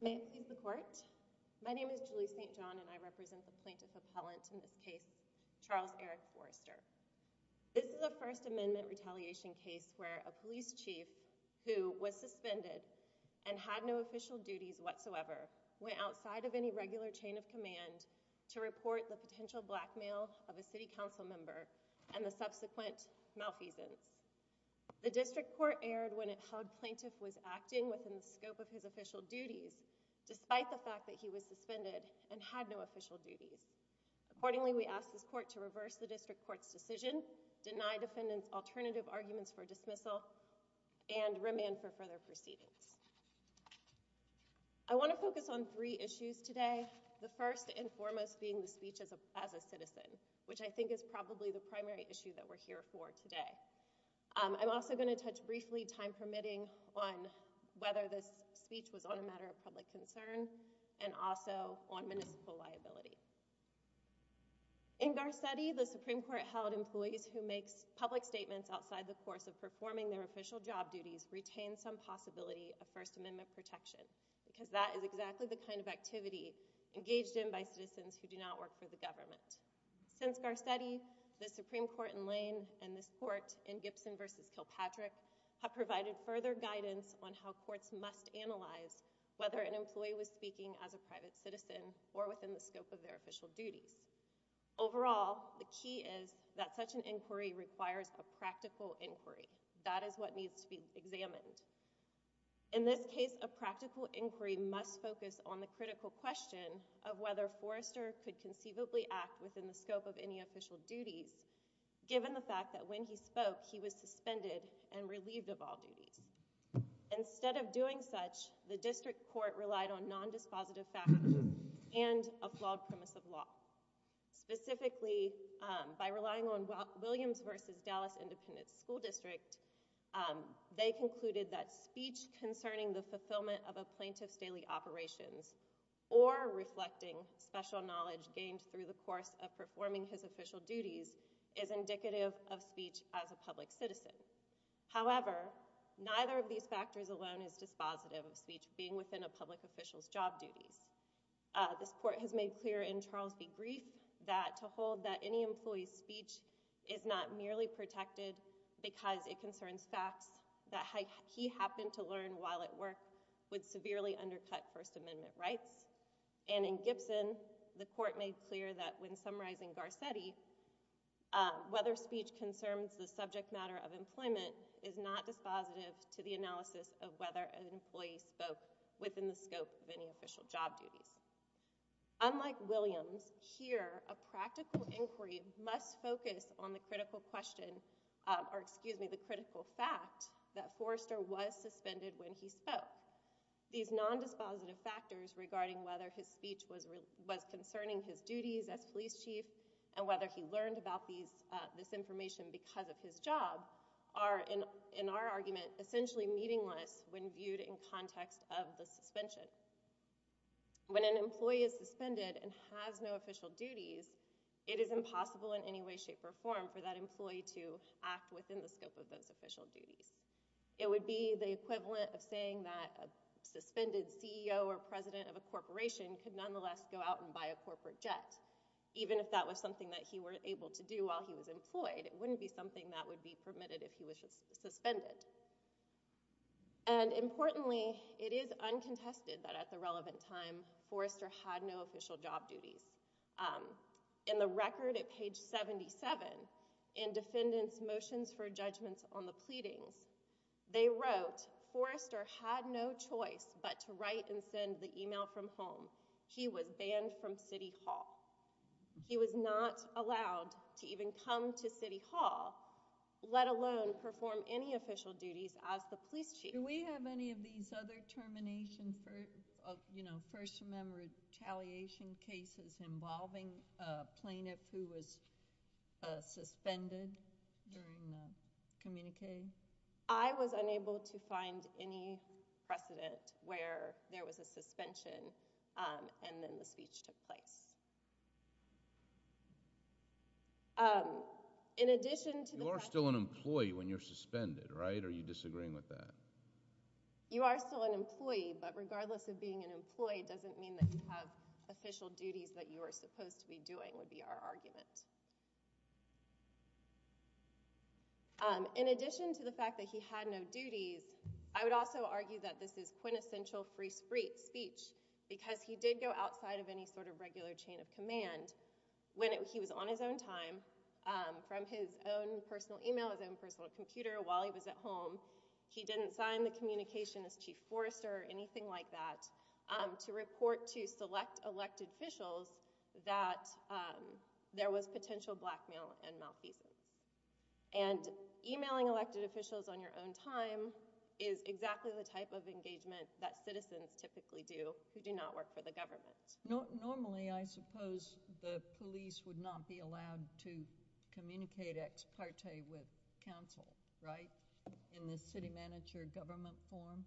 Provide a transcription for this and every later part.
May it please the court, my name is Julie St. John and I represent the plaintiff appellant in this case, Charles Eric Foerster. This is a First Amendment retaliation case where a police chief who was suspended and had no official duties whatsoever went outside of any regular chain of command to report the potential blackmail of a city council member and the subsequent malfeasance. The district court erred when it held plaintiff was acting within the scope of his official duties despite the fact that he was suspended and had no official duties. Accordingly, we ask this court to reverse the district court's decision, deny defendant's alternative arguments for dismissal, and remand for further proceedings. I want to focus on three issues today, the first and foremost being the speech as a citizen, which I think is probably the primary issue that we're here for today. I'm also going to touch briefly, time permitting, on whether this speech was on a matter of public concern and also on municipal liability. In Garcetti, the Supreme Court held employees who make public statements outside the course of performing their official job duties retain some possibility of First Amendment protection because that is exactly the kind of activity engaged in by citizens who do not work for the government. Since Garcetti, the Supreme Court in Lane and this court in Gibson v. Kilpatrick have provided further guidance on how courts must analyze whether an employee was speaking as a private citizen or within the scope of their official duties. Overall, the key is that such an inquiry requires a practical inquiry. That is what needs to be examined. In this case, a practical inquiry must focus on the critical question of whether Forrester could conceivably act within the scope of any official duties given the fact that when he spoke, he was suspended and relieved of all duties. Instead of doing such, the district court relied on nondispositive factors and a flawed premise of law. Specifically, by relying on Williams v. Dallas Independent School District, they concluded that speech concerning the fulfillment of a plaintiff's daily operations or reflecting special knowledge gained through the course of performing his official duties is indicative of speech as a public citizen. However, neither of these factors alone is dispositive of speech being within a public official's job duties. This court has made clear in Charles v. Grief that to hold that any employee's speech is not merely protected because it concerns facts that he happened to learn while at work would severely undercut First Amendment rights. And in Gibson, the court made clear that when summarizing Garcetti, whether speech concerns the subject matter of employment is not dispositive to the analysis of whether an employee spoke within the scope of any official job duties. Unlike Williams, here a practical inquiry must focus on the critical question, or excuse me, the critical fact that Forrester was suspended when he spoke. These non-dispositive factors regarding whether his speech was concerning his duties as police chief and whether he learned about this information because of his job are, in our argument, essentially meaningless when viewed in context of the suspension. When an employee is suspended and has no official duties, it is impossible in any way, shape, or form for that employee to act within the scope of those official duties. It would be the equivalent of saying that a suspended CEO or president of a corporation could nonetheless go out and buy a corporate jet, even if that was something that he were able to do while he was employed. It wouldn't be something that would be permitted if he was suspended. And importantly, it is uncontested that at the relevant time Forrester had no official job duties. In the record at page 77, in Defendant's Motions for Judgment on the Pleadings, they wrote, Forrester had no choice but to write and send the email from home. He was banned from City Hall. He was not allowed to even come to City Hall, let alone perform any official duties as the police chief. Do we have any of these other termination, first-member retaliation cases involving a plaintiff who was suspended during the communique? I was unable to find any precedent where there was a suspension and then the speech took In addition to the fact... You are still an employee when you're suspended, right? Or are you disagreeing with that? You are still an employee, but regardless of being an employee, it doesn't mean that you have official duties that you are supposed to be doing, would be our argument. In addition to the fact that he had no duties, I would also argue that this is quintessential free speech because he did go outside of any sort of regular chain of command when he was on his own time, from his own personal email, his own personal computer, while he was at home. He didn't sign the communication as Chief Forrester or anything like that to report to select elected officials that there was potential blackmail and malfeasance. And emailing elected officials on your own time is exactly the type of engagement that citizens typically do who do not work for the government. Normally, I suppose, the police would not be allowed to communicate ex parte with counsel, right? In the city manager government form?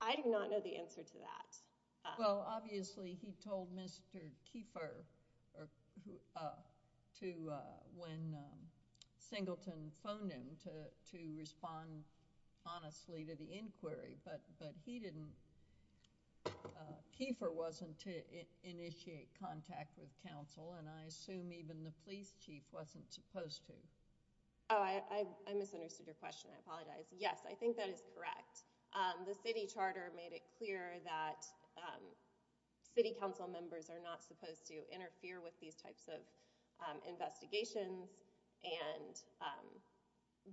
I do not know the answer to that. Well, obviously, he told Mr. Keeper when Singleton phoned him to respond honestly to the inquiry, but Keeper wasn't to initiate contact with counsel, and I assume even the police chief wasn't supposed to. Oh, I misunderstood your question. I apologize. Yes, I think that is correct. The city charter made it clear that city council members are not supposed to interfere with these types of investigations,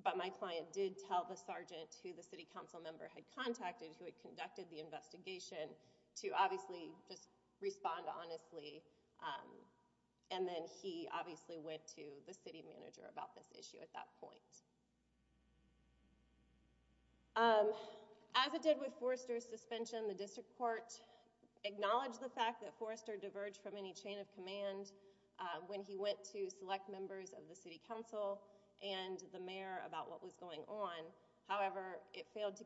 but my client did tell the sergeant who the city council member had contacted who had conducted the investigation to obviously just respond honestly, and then he obviously went to the city manager about this issue at that point. As it did with Forrester's suspension, the district court acknowledged the fact that Forrester diverged from any chain of command when he went to select members of the city council. It did not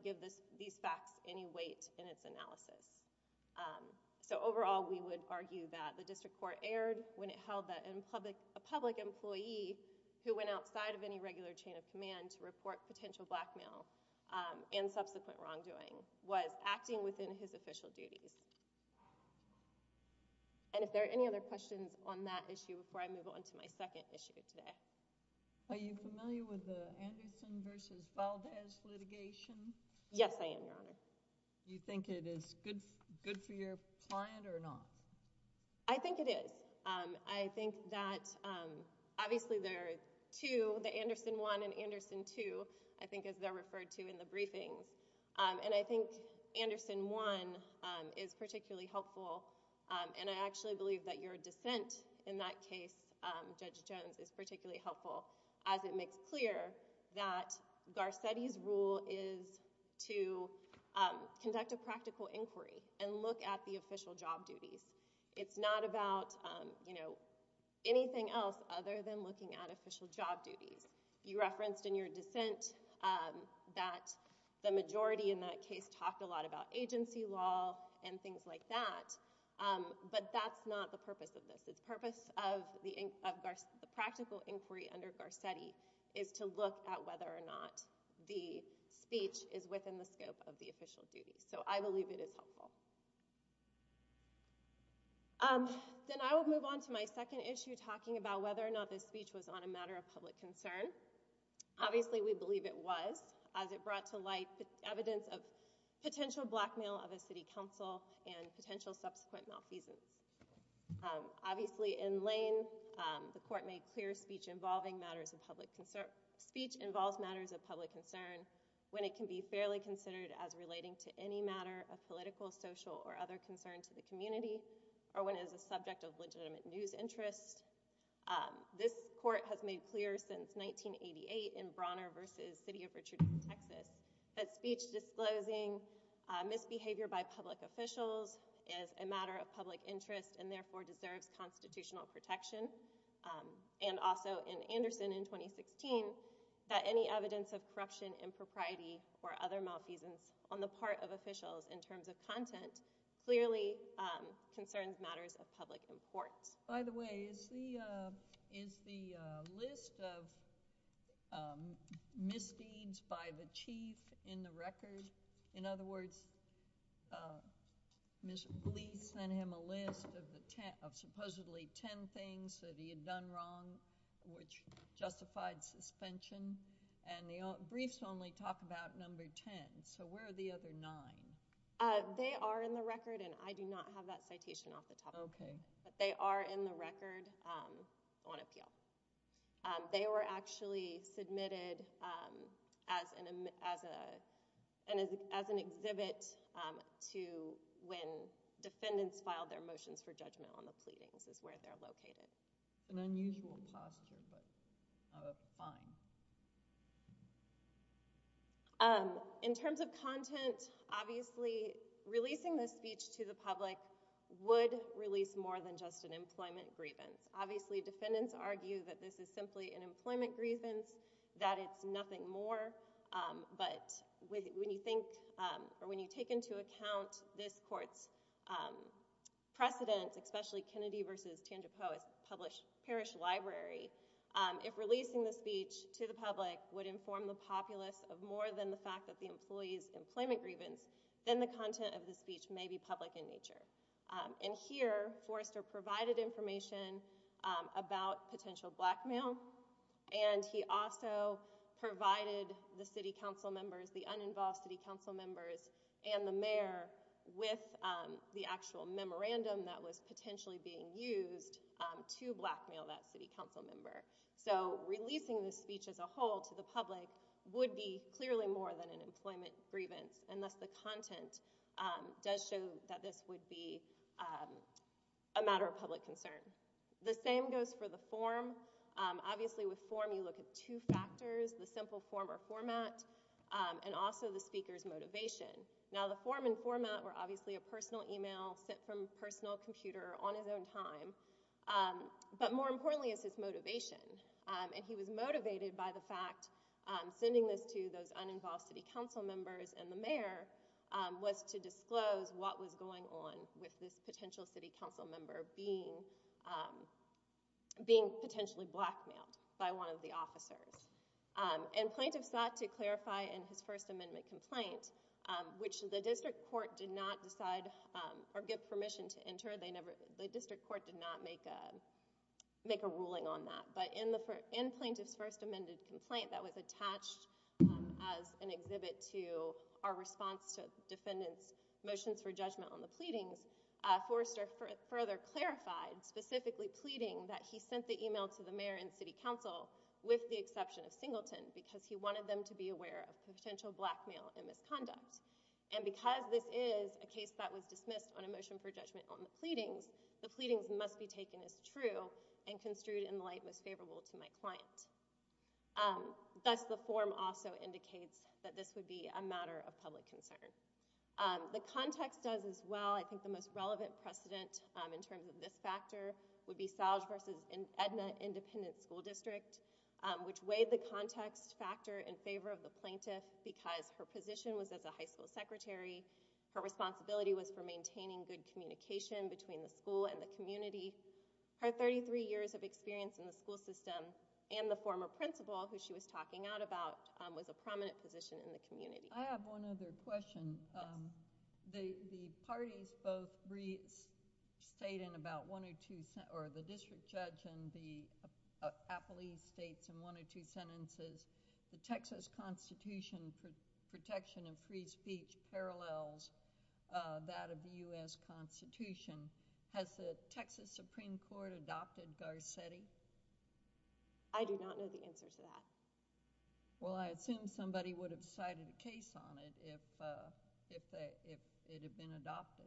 give these facts any weight in its analysis. Overall, we would argue that the district court erred when it held that a public employee who went outside of any regular chain of command to report potential blackmail and subsequent wrongdoing was acting within his official duties. If there are any other questions on that issue before I move on to my second issue today? Are you familiar with the Anderson v. Valdez litigation? Yes, I am, Your Honor. Do you think it is good for your client or not? I think it is. I think that obviously there are two, the Anderson 1 and Anderson 2, I think as they're referred to in the briefing, and I think Anderson 1 is particularly helpful, and I actually believe that your dissent in that case, Judge Jones, is particularly helpful as it makes clear that Garcetti's rule is to conduct a practical inquiry and look at the official job duties. It's not about anything else other than looking at official job duties. You referenced in your dissent that the majority in that case talked a lot about agency law and things like that, but that's not the purpose of this. The purpose of the practical inquiry under Garcetti is to look at whether or not the speech is within the scope of the official duties, so I believe it is helpful. Then I will move on to my second issue talking about whether or not this speech was on a matter of public concern. Obviously we believe it was, as it brought to light evidence of potential blackmail of the city council and potential subsequent malfeasance. Obviously in Lane, the court made clear speech involving matters of public concern, speech involves matters of public concern when it can be fairly considered as relating to any matter of political, social, or other concern to the community or when it is a subject of legitimate news interest. This court has made clear since 1988 in Bronner v. City of Richardson, Texas, that speech disclosing misbehavior by public officials is a matter of public interest and therefore deserves constitutional protection, and also in Anderson in 2016, that any evidence of corruption, impropriety, or other malfeasance on the part of officials in terms of content clearly concerns matters of public importance. By the way, is the list of misdeeds by the chief in the record? In other words, police sent him a list of supposedly ten things that he had done wrong which justified suspension, and the briefs only talk about number ten. So where are the other nine? They are in the record, and I do not have that citation off the top of my head. Okay. But they are in the record on appeal. They were actually submitted as an exhibit to when defendants filed their motions for judgment on the pleadings is where they're located. An unusual posture, but fine. In terms of content, obviously, releasing the speech to the public would release more than just an employment grievance. Obviously, defendants argue that this is simply an employment grievance, that it's nothing more, but when you take into account this court's precedent, especially Kennedy v. Tandor Poe's parish library, if releasing the speech to the public would inform the populace of more than the fact that the employee's employment grievance, then the content of the speech may be public in nature. And here, Forrester provided information about potential blackmail, and he also provided the city council members, the uninvolved city council members, and the mayor with the actual information being used to blackmail that city council member. So releasing the speech as a whole to the public would be clearly more than an employment grievance, unless the content does show that this would be a matter of public concern. The same goes for the form. Obviously, with form, you look at two factors, the simple form or format, and also the speaker's motivation. Now, the form and format were obviously a personal email sent from a personal computer on his own time, but more importantly is his motivation. And he was motivated by the fact, sending this to those uninvolved city council members and the mayor, was to disclose what was going on with this potential city council member being potentially blackmailed by one of the officers. And plaintiff sought to clarify in his first amendment complaint, which the district court did not decide or give permission to enter. The district court did not make a ruling on that. But in plaintiff's first amendment complaint that was attached as an exhibit to our response to defendant's motions for judgment on the pleadings, Forrester further clarified, specifically pleading that he sent the email to the mayor and city council with the exception of Singleton because he wanted them to be aware of potential blackmail and misconduct. And because this is a case that was dismissed on a motion for judgment on the pleadings, the pleadings must be taken as true and construed in the light most favorable to my client. Thus, the form also indicates that this would be a matter of public concern. The context does as well. I think the most relevant precedent in terms of this factor would be Salge versus Edna Independent School District, which weighed the context factor in favor of the plaintiff because her position was as a high school secretary. Her responsibility was for maintaining good communication between the school and the community. Her 33 years of experience in the school system and the former principal, who she was talking out about, was a prominent position in the community. I have one other question. The parties both re-state in about one or two, or the district judge and the appellee states in one or two sentences, the Texas Constitution for protection of free speech parallels that of the U.S. Constitution. Has the Texas Supreme Court adopted Garcetti? I do not know the answer to that. Well, I assume somebody would have cited a case on it if it had been adopted.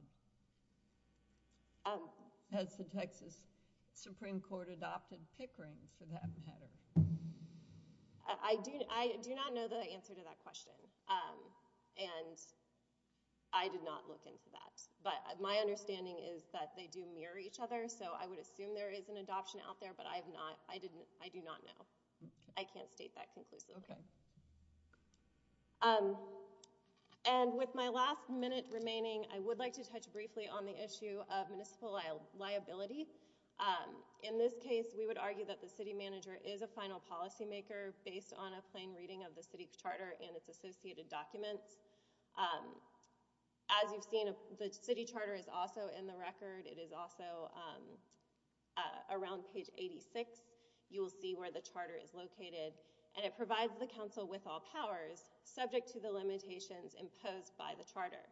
Has the Texas Supreme Court adopted Pickering for that matter? I do not know the answer to that question, and I did not look into that. But my understanding is that they do mirror each other, so I would assume there is an adoption out there, but I do not know. I can't state that conclusively. Okay. And with my last minute remaining, I would like to touch briefly on the issue of municipal liability. In this case, we would argue that the city manager is a final policymaker based on a plain reading of the city charter and its associated documents. As you've seen, the city charter is also in the record. It is also around page 86. You will see where the charter is located, and it provides the council with all powers subject to the limitations imposed by the charter.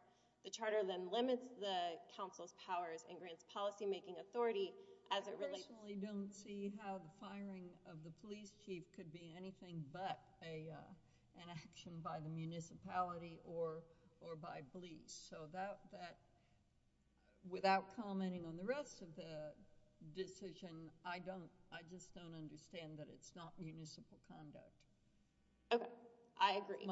The charter then limits the council's powers and grants policymaking authority as it relates to I personally don't see how the firing of the police chief could be anything but an action by the municipality or by police. So without commenting on the rest of the decision, I just don't understand that it's not municipal conduct. Okay. I agree.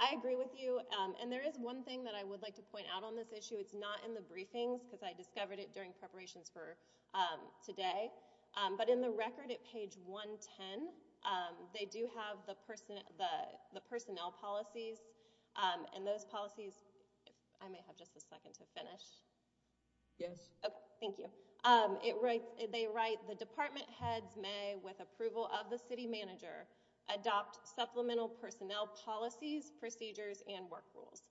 I agree with you, and there is one thing that I would like to point out on this issue. It's not in the briefings, because I discovered it during preparations for today, but in the I may have just a second to finish. Yes. Thank you. They write, The department heads may, with approval of the city manager, adopt supplemental personnel policies, procedures, and work rules.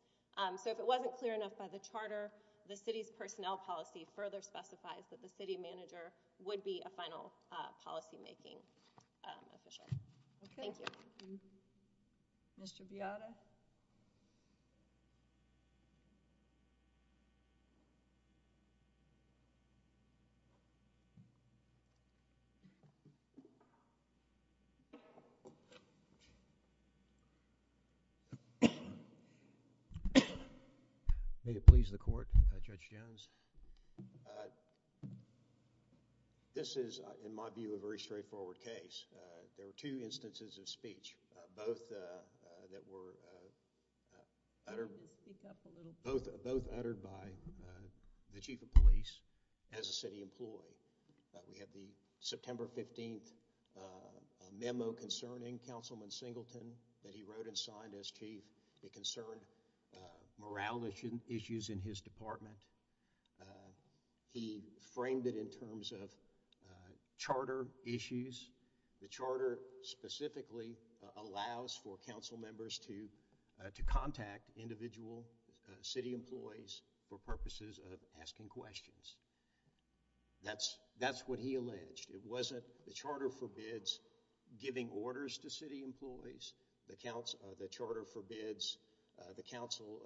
So if it wasn't clear enough by the charter, the city's personnel policy further specifies that the city manager would be a final policymaking official. Okay. Thank you. Mr. Beata? Thank you. May it please the Court, Judge Jones? This is, in my view, a very straightforward case. There were two instances of speech, both that were uttered by the chief of police as a city employee. We have the September 15th memo concerning Councilman Singleton that he wrote and signed as chief. It concerned morale issues in his department. He framed it in terms of charter issues. The charter specifically allows for council members to contact individual city employees for purposes of asking questions. That's what he alleged. It wasn't the charter forbids giving orders to city employees. The charter forbids the council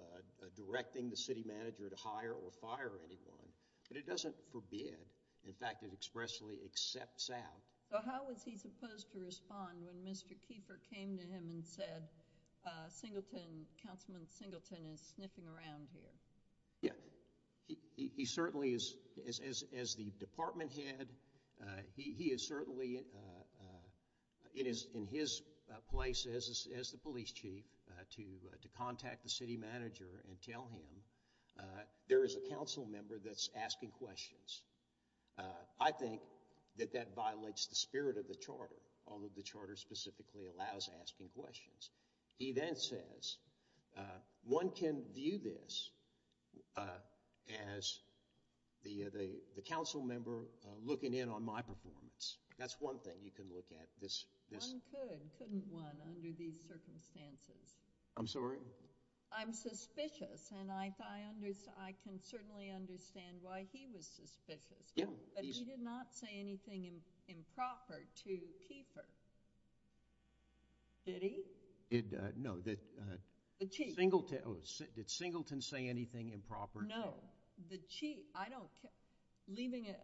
directing the city manager to hire or fire anyone. But it doesn't forbid. In fact, it expressly accepts out. So how was he supposed to respond when Mr. Keeper came to him and said, Councilman Singleton is sniffing around here? Yeah. He certainly is, as the department head, he is certainly in his place as the police chief to contact the city manager and tell him, there is a council member that's asking questions. I think that that violates the spirit of the charter, although the charter specifically allows asking questions. He then says, one can view this as the council member looking in on my performance. That's one thing you can look at. One could, couldn't one, under these circumstances? I'm sorry? I'm suspicious, and I can certainly understand why he was suspicious. But he did not say anything improper to Keeper. Did he? No. The chief. Did Singleton say anything improper? No. The chief. I don't care.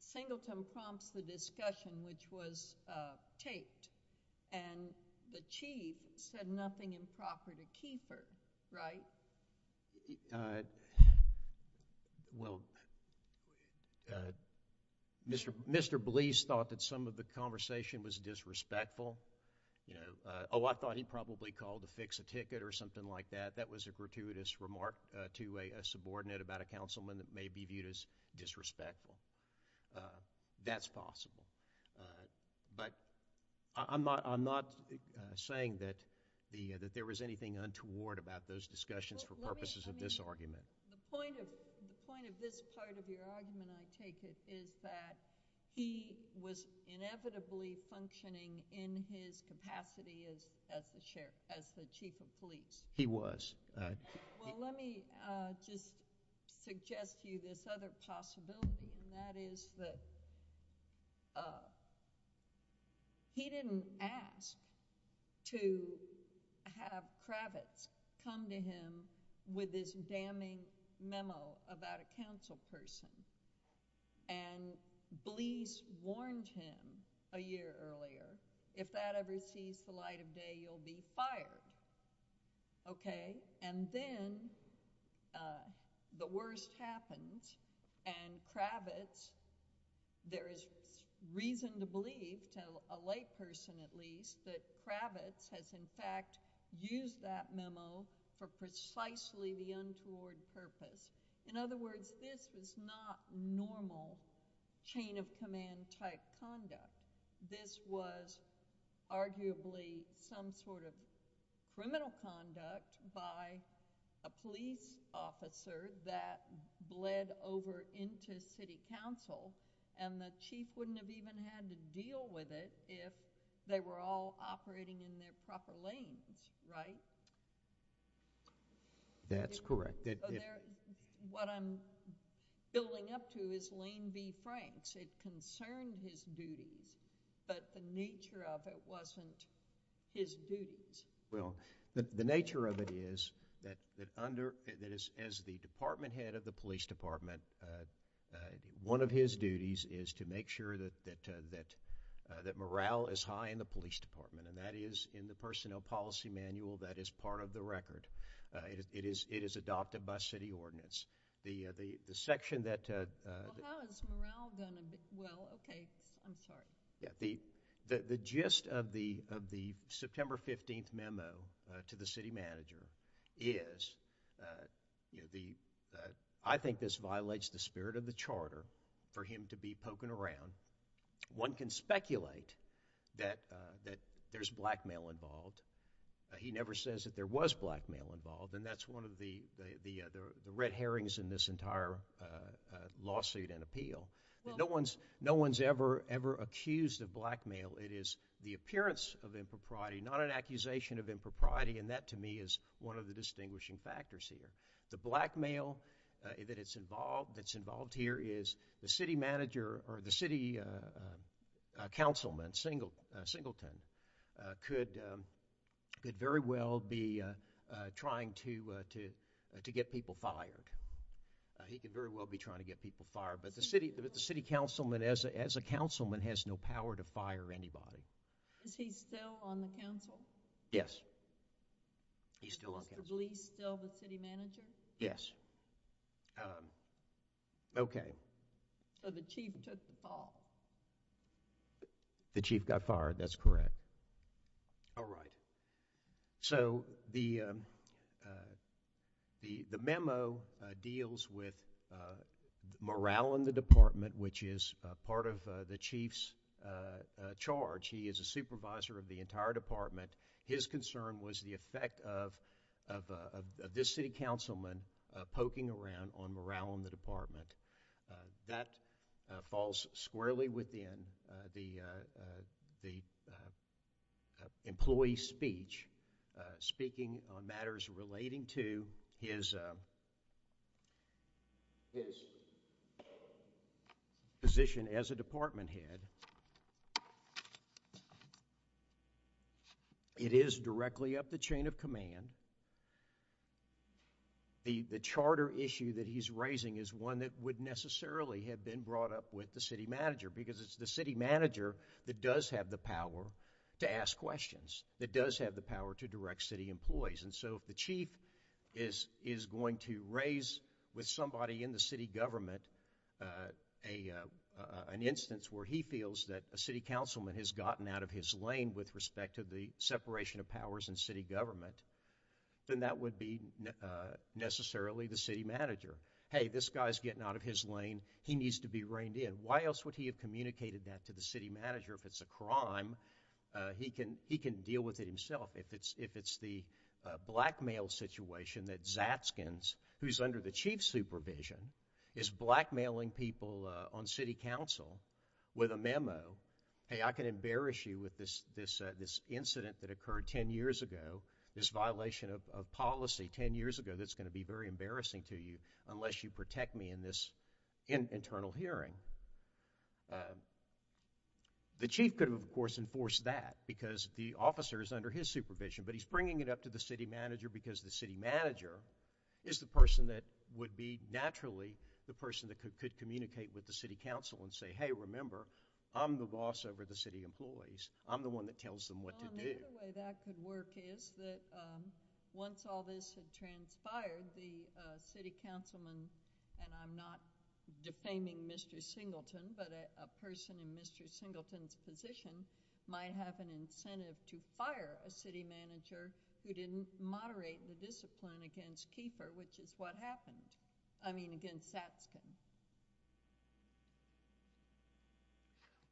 Singleton prompts the discussion, which was taped. And the chief said nothing improper to Keeper, right? Well, Mr. Blease thought that some of the conversation was disrespectful. Oh, I thought he probably called to fix a ticket or something like that. That was a gratuitous remark to a subordinate about a councilman that may be viewed as disrespectful. That's possible. But I'm not saying that there was anything untoward about those discussions for purposes of this argument. The point of this part of your argument, I take it, is that he was inevitably functioning in his capacity as the chief of police. He was. Well, let me just suggest to you this other possibility, and that is that he didn't ask to have Kravitz come to him with this damning memo about a councilperson. And Blease warned him a year earlier, if that ever sees the light of day, you'll be fired. Okay? And then the worst happens, and Kravitz, there is reason to believe, to a layperson at least, that Kravitz has in fact used that memo for precisely the untoward purpose. In other words, this is not normal chain-of-command type conduct. This was arguably some sort of criminal conduct by a police officer that bled over into city council, and the chief wouldn't have even had to deal with it if they were all operating in their proper lanes, right? That's correct. What I'm building up to is Lane v. Franks. It concerned his duties, but the nature of it wasn't his duties. Well, the nature of it is that as the department head of the police department, one of his duties is to make sure that morale is high in the police department, and that is in the personnel policy manual that is part of the record. It is adopted by city ordinance. The section that— Well, how is morale going to be—well, okay, I'm sorry. The gist of the September 15th memo to the city manager is, I think this violates the spirit of the charter for him to be poking around. One can speculate that there's blackmail involved. He never says that there was blackmail involved, and that's one of the red herrings in this entire lawsuit and appeal. No one's ever accused of blackmail. It is the appearance of impropriety, not an accusation of impropriety, and that to me is one of the distinguishing factors here. The blackmail that's involved here is the city councilman, Singleton, could very well be trying to get people fired. He could very well be trying to get people fired, but the city councilman, as a councilman, has no power to fire anybody. Is he still on the council? Is the police still the city manager? Yes. Okay. So the chief took the call. The chief got fired. That's correct. All right. So the memo deals with morale in the department, which is part of the chief's charge. He is a supervisor of the entire department. His concern was the effect of this city councilman poking around on morale in the department. That falls squarely within the employee's speech, speaking on matters relating to his position as a department head. It is directly up the chain of command. The charter issue that he's raising is one that would necessarily have been brought up with the city manager, because it's the city manager that does have the power to ask questions, that does have the power to direct city employees. And so if the chief is going to raise with somebody in the city government an instance where he feels that a city councilman has gotten out of his lane with respect to the separation of powers in city government, then that would be necessarily the city manager. Hey, this guy's getting out of his lane. He needs to be reined in. Why else would he have communicated that to the city manager if it's a crime? He can deal with it himself. If it's the blackmail situation that Zatskins, who's under the chief's supervision, is blackmailing people on city council with a memo, hey, I can embarrass you with this incident that occurred ten years ago, this violation of policy ten years ago that's going to be very embarrassing to you unless you protect me in this internal hearing. The chief could have, of course, enforced that because the officer is under his supervision, but he's bringing it up to the city manager because the city manager is the person that would be naturally the person that could communicate with the city council and say, hey, remember, I'm the boss over the city employees. I'm the one that tells them what to do. Well, another way that could work is that once all this had transpired, the city councilman, and I'm not defaming Mr. Singleton, but a person in Mr. Singleton's position might have an incentive to fire a city manager who didn't moderate the discipline against Keeper, which is what happened, I mean against Zatskins.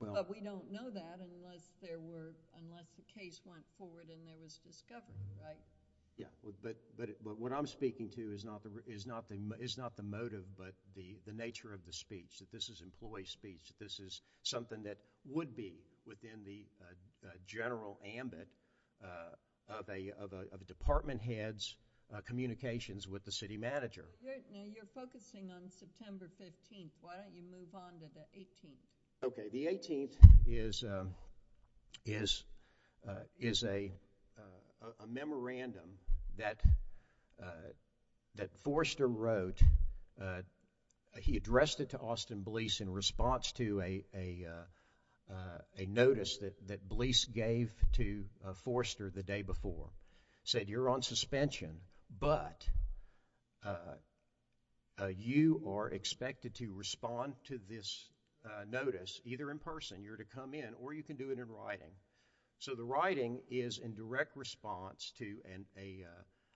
But we don't know that unless the case went forward and there was discovery, right? Yeah, but what I'm speaking to is not the motive but the nature of the speech, that this is employee speech, that this is something that would be within the general ambit of a department head's communications with the city manager. Now, you're focusing on September 15th. Why don't you move on to the 18th? Okay, the 18th is a memorandum that Forster wrote. He addressed it to Austin Blease in response to a notice that Blease gave to Forster the day before. He said, you're on suspension, but you are expected to respond to this notice either in person, you're to come in, or you can do it in writing. So the writing is in direct response to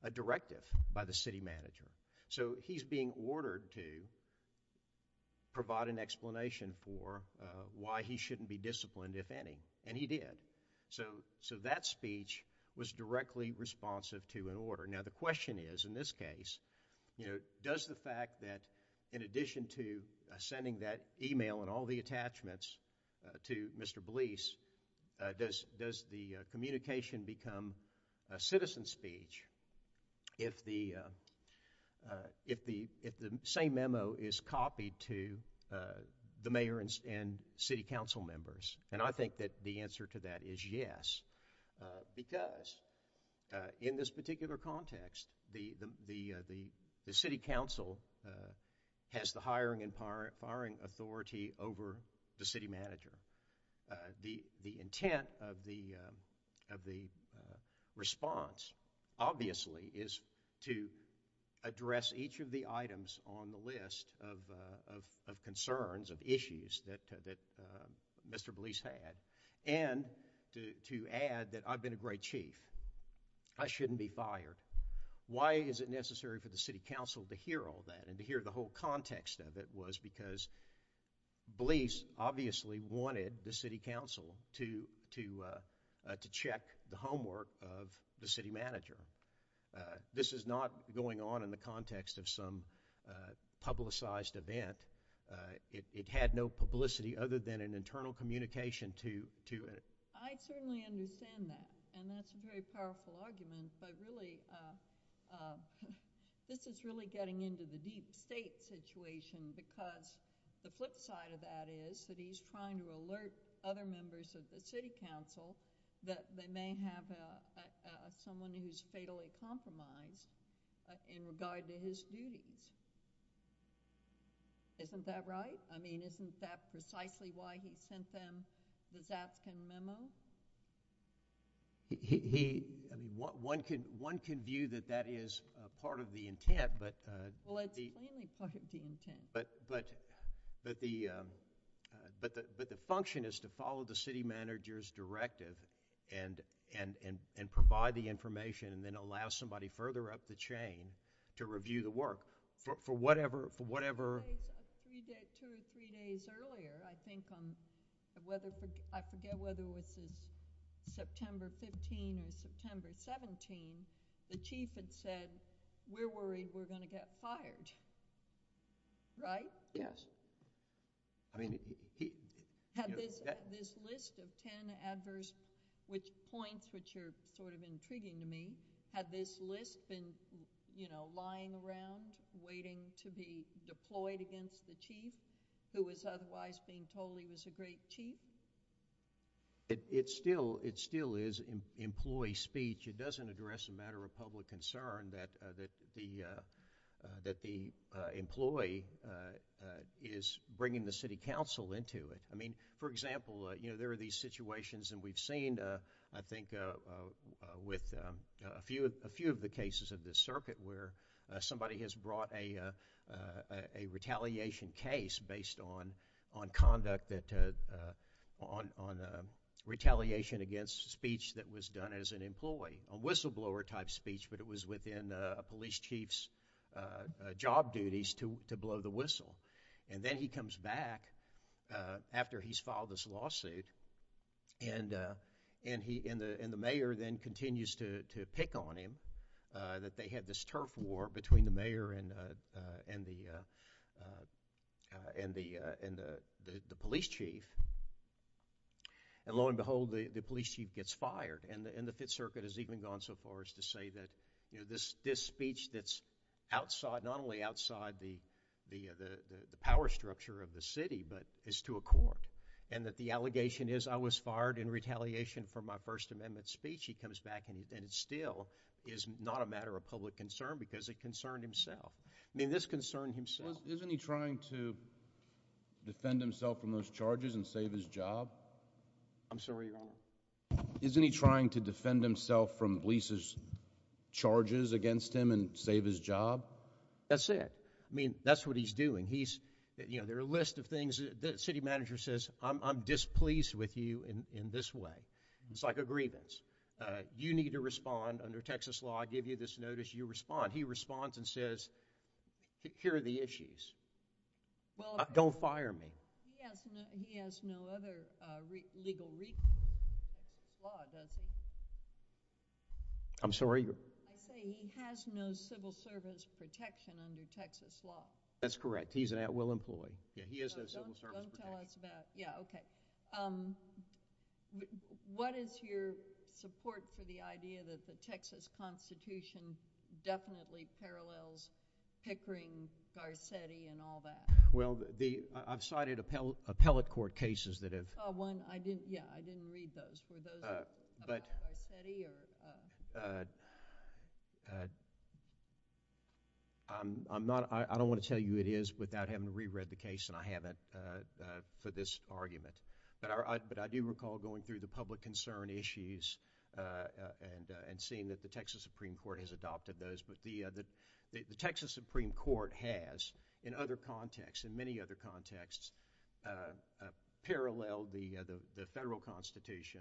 a directive by the city manager. So he's being ordered to provide an explanation for why he shouldn't be disciplined, if any, and he did. So that speech was directly responsive to an order. Now the question is, in this case, does the fact that in addition to sending that email and all the attachments to Mr. Blease, does the communication become a citizen speech if the same memo is copied to the mayor and city council members? And I think that the answer to that is yes, because in this particular context, the city council has the hiring and firing authority over the city manager. The intent of the response, obviously, is to address each of the items on the list of concerns, of issues that Mr. Blease had, and to add that I've been a great chief. I shouldn't be fired. Why is it necessary for the city council to hear all that and to hear the whole context of it was because Blease obviously wanted the city council to check the homework of the city manager. This is not going on in the context of some publicized event. It had no publicity other than an internal communication to it. I certainly understand that, and that's a very powerful argument, but really, this is really getting into the deep state situation because the flip side of that is that he's trying to alert other members of the city council that they may have someone who's fatally compromised in regard to his duties. Isn't that right? I mean, isn't that precisely why he sent them the Zapskin memo? One can view that that is part of the intent. Well, it's clearly part of the intent. But the function is to follow the city manager's directive and provide the information and then allow somebody further up the chain to review the work for whatever— Two or three days earlier, I think, I forget whether it was September 15 or September 17, the chief had said, we're worried we're going to get fired. Right? Yes. Had this list of 10 adverse points, which are sort of intriguing to me, had this list been lying around waiting to be deployed against the chief who was otherwise being told he was a great chief? It still is employee speech. It doesn't address a matter of public concern that the employee is bringing the city council into it. I mean, for example, you know, there are these situations, and we've seen, I think, with a few of the cases of this circuit where somebody has brought a retaliation case based on conduct that—on retaliation against speech that was done as an employee, a whistleblower-type speech, but it was within a police chief's job duties to blow the whistle. And then he comes back after he's filed this lawsuit, and the mayor then continues to pick on him that they had this turf war between the mayor and the police chief. And lo and behold, the police chief gets fired. And the Fifth Circuit has even gone so far as to say that, you know, this speech that's outside—not only outside the power structure of the city, but is to a court, and that the allegation is, I was fired in retaliation for my First Amendment speech. He comes back, and it still is not a matter of public concern because it concerned himself. I mean, this concerned himself. Isn't he trying to defend himself from those charges and save his job? I'm sorry, your Honor? Isn't he trying to defend himself from Blee's charges against him and save his job? That's it. I mean, that's what he's doing. He's—you know, there are a list of things. The city manager says, I'm displeased with you in this way. It's like a grievance. You need to respond. Under Texas law, I give you this notice. You respond. He responds and says, here are the issues. Don't fire me. He has no other legal—law, does he? I'm sorry? I say he has no civil service protection under Texas law. That's correct. He's an at-will employee. Yeah, he has no civil service protection. Don't tell us about—yeah, okay. What is your support for the idea that the Texas Constitution definitely parallels Pickering, Garcetti, and all that? Well, the—I've cited appellate court cases that have— Oh, one. I didn't—yeah, I didn't read those. Were those about Garcetti or— I'm not—I don't want to tell you who it is without having reread the case, and I haven't for this argument. But I do recall going through the public concern issues and seeing that the Texas Supreme Court has adopted those. But the Texas Supreme Court has, in other contexts, in many other contexts, paralleled the federal Constitution.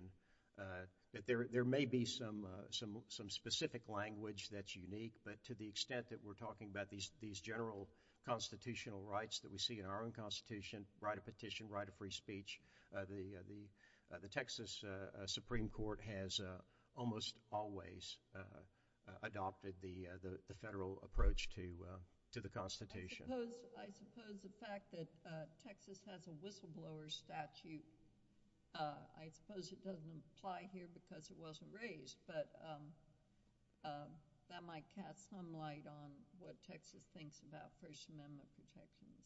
There may be some specific language that's unique, but to the extent that we're talking about these general constitutional rights that we see in our own Constitution, write a petition, write a free speech, the Texas Supreme Court has almost always adopted the federal approach to the Constitution. I suppose the fact that Texas has a whistleblower statute, I suppose it doesn't apply here because it wasn't raised, but that might cast some light on what Texas thinks about First Amendment protections.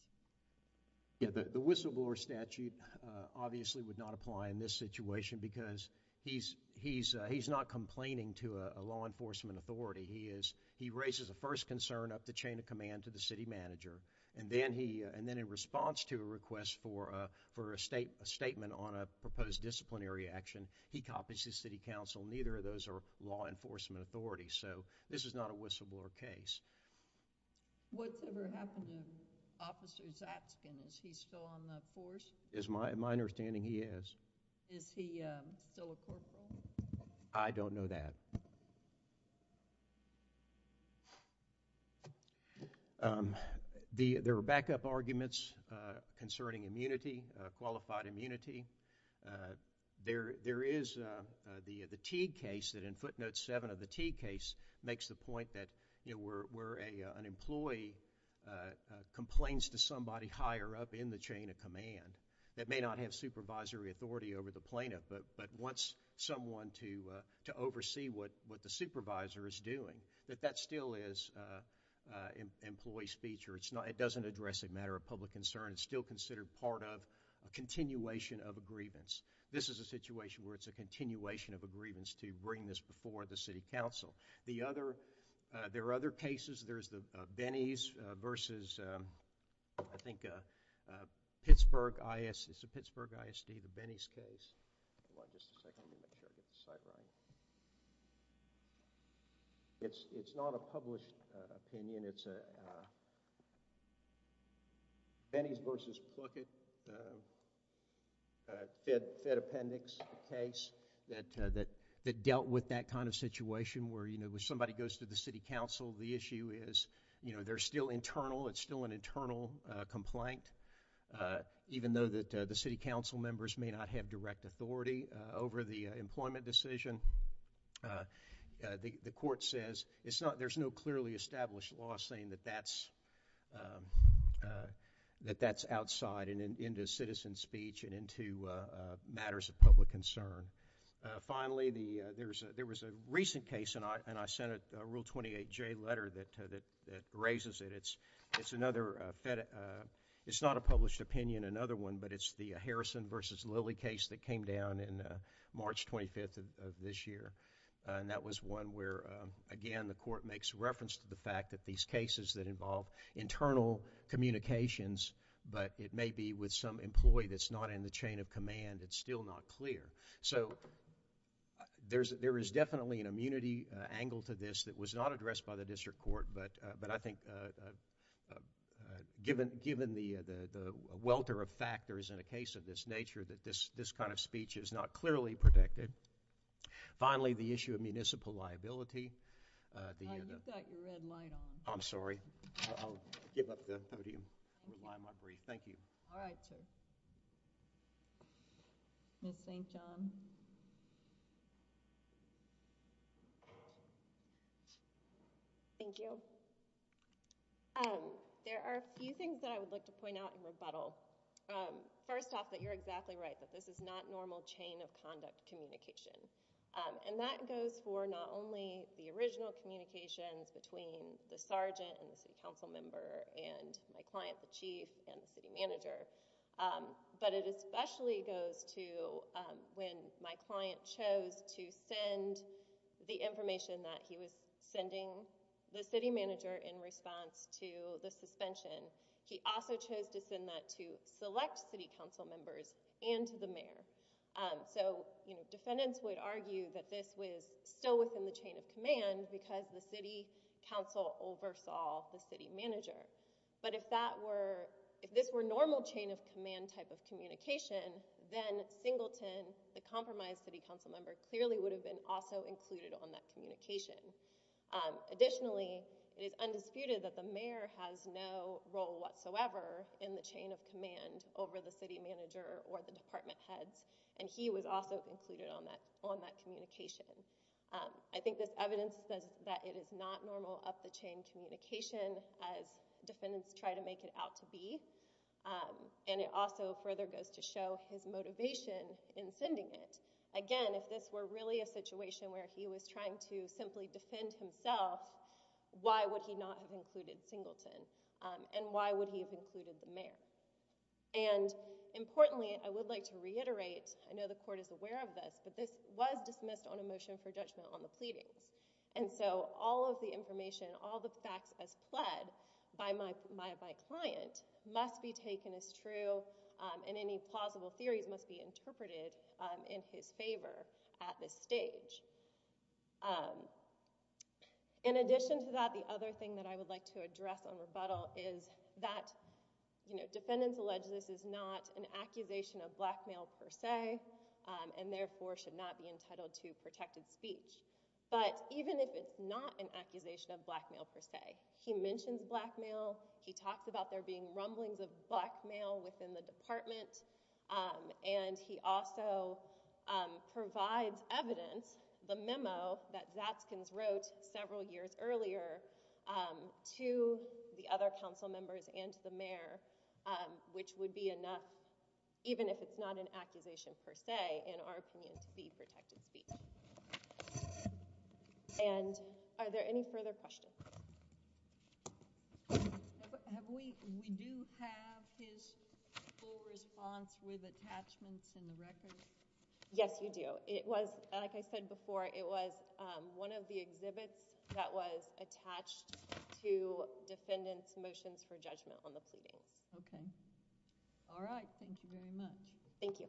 Yeah, the whistleblower statute obviously would not apply in this situation because he's not complaining to a law enforcement authority. He is—he raises a first concern up the chain of command to the city manager, and then he—and then in response to a request for a statement on a proposed disciplinary action, he copies to city council. Neither of those are law enforcement authorities, so this is not a whistleblower case. What's ever happened to Officer Zapskin? Is he still on the force? As my understanding, he is. Is he still a corporal? I don't know that. There are backup arguments concerning immunity, qualified immunity. There is the Teague case that in footnote 7 of the Teague case makes the point that, you know, where an employee complains to somebody higher up in the chain of command that may not have supervisory authority over the plaintiff, but wants someone to oversee what the supervisor is doing, that that still is an employee's feature. It's not—it doesn't address a matter of public concern. It's still considered part of a continuation of a grievance. This is a situation where it's a continuation of a grievance to bring this before the city council. The other—there are other cases. There's the Benney's versus, I think, Pittsburgh I.S.—it's the Pittsburgh I.S.D., the Benney's case. Hold on just a second. It's not a published opinion. It's a Benney's versus Pluckett Fed Appendix case that dealt with that kind of situation where, you know, when somebody goes to the city council, the issue is, you know, they're still internal. It's still an internal complaint. Even though the city council members may not have direct authority over the employment decision, the court says it's not—there's no clearly established law saying that that's outside and into citizen speech and into matters of public concern. Finally, there was a recent case, and I sent a Rule 28J letter that raises it. It's another—it's not a published opinion, another one, but it's the Harrison versus Lilly case that came down in March 25th of this year, and that was one where, again, the court makes reference to the fact that these cases that involve internal communications, but it may be with some employee that's not in the chain of command, it's still not clear. So, there is definitely an immunity angle to this that was not addressed by the district court, but I think given the welter of factors in a case of this nature that this kind of speech is not clearly protected. Finally, the issue of municipal liability. You've got your red light on. I'm sorry. I'll give up the podium and rely on my brief. Thank you. All right. Ms. St. John. Thank you. There are a few things that I would like to point out in rebuttal. First off, that you're exactly right, that this is not normal chain of conduct communication, and that goes for not only the original communications between the sergeant and the city council member and my client, the chief, and the city manager, but it especially goes to when my client chose to send the information that he was sending the city manager in response to the suspension. He also chose to send that to select city council members and to the mayor. So defendants would argue that this was still within the chain of command because the city council oversaw the city manager. But if this were normal chain of command type of communication, then Singleton, the compromised city council member, clearly would have been also included on that communication. Additionally, it is undisputed that the mayor has no role whatsoever in the chain of command over the city manager or the department heads, and he was also included on that communication. I think this evidence says that it is not normal up-the-chain communication as defendants try to make it out to be, and it also further goes to show his motivation in sending it. Again, if this were really a situation where he was trying to simply defend himself, why would he not have included Singleton? And why would he have included the mayor? And importantly, I would like to reiterate, I know the court is aware of this, but this was dismissed on a motion for judgment on the pleadings. And so all of the information, all the facts as pled by my client must be taken as true, and any plausible theories must be interpreted in his favor at this stage. In addition to that, the other thing that I would like to address on rebuttal is that, you know, defendants allege this is not an accusation of blackmail per se, and therefore should not be entitled to protected speech. But even if it's not an accusation of blackmail per se, he mentions blackmail, he talks about there being rumblings of blackmail within the department, and he also provides evidence, the memo that Zatskins wrote several years earlier, to the other council members and to the mayor, which would be enough, even if it's not an accusation per se, in our opinion, to be protected speech. And are there any further questions? We do have his full response with attachments and records. Yes, you do. It was, like I said before, it was one of the exhibits that was attached to defendants' motions for judgment on the pleadings. Okay. All right. Thank you very much. Thank you. Thank you.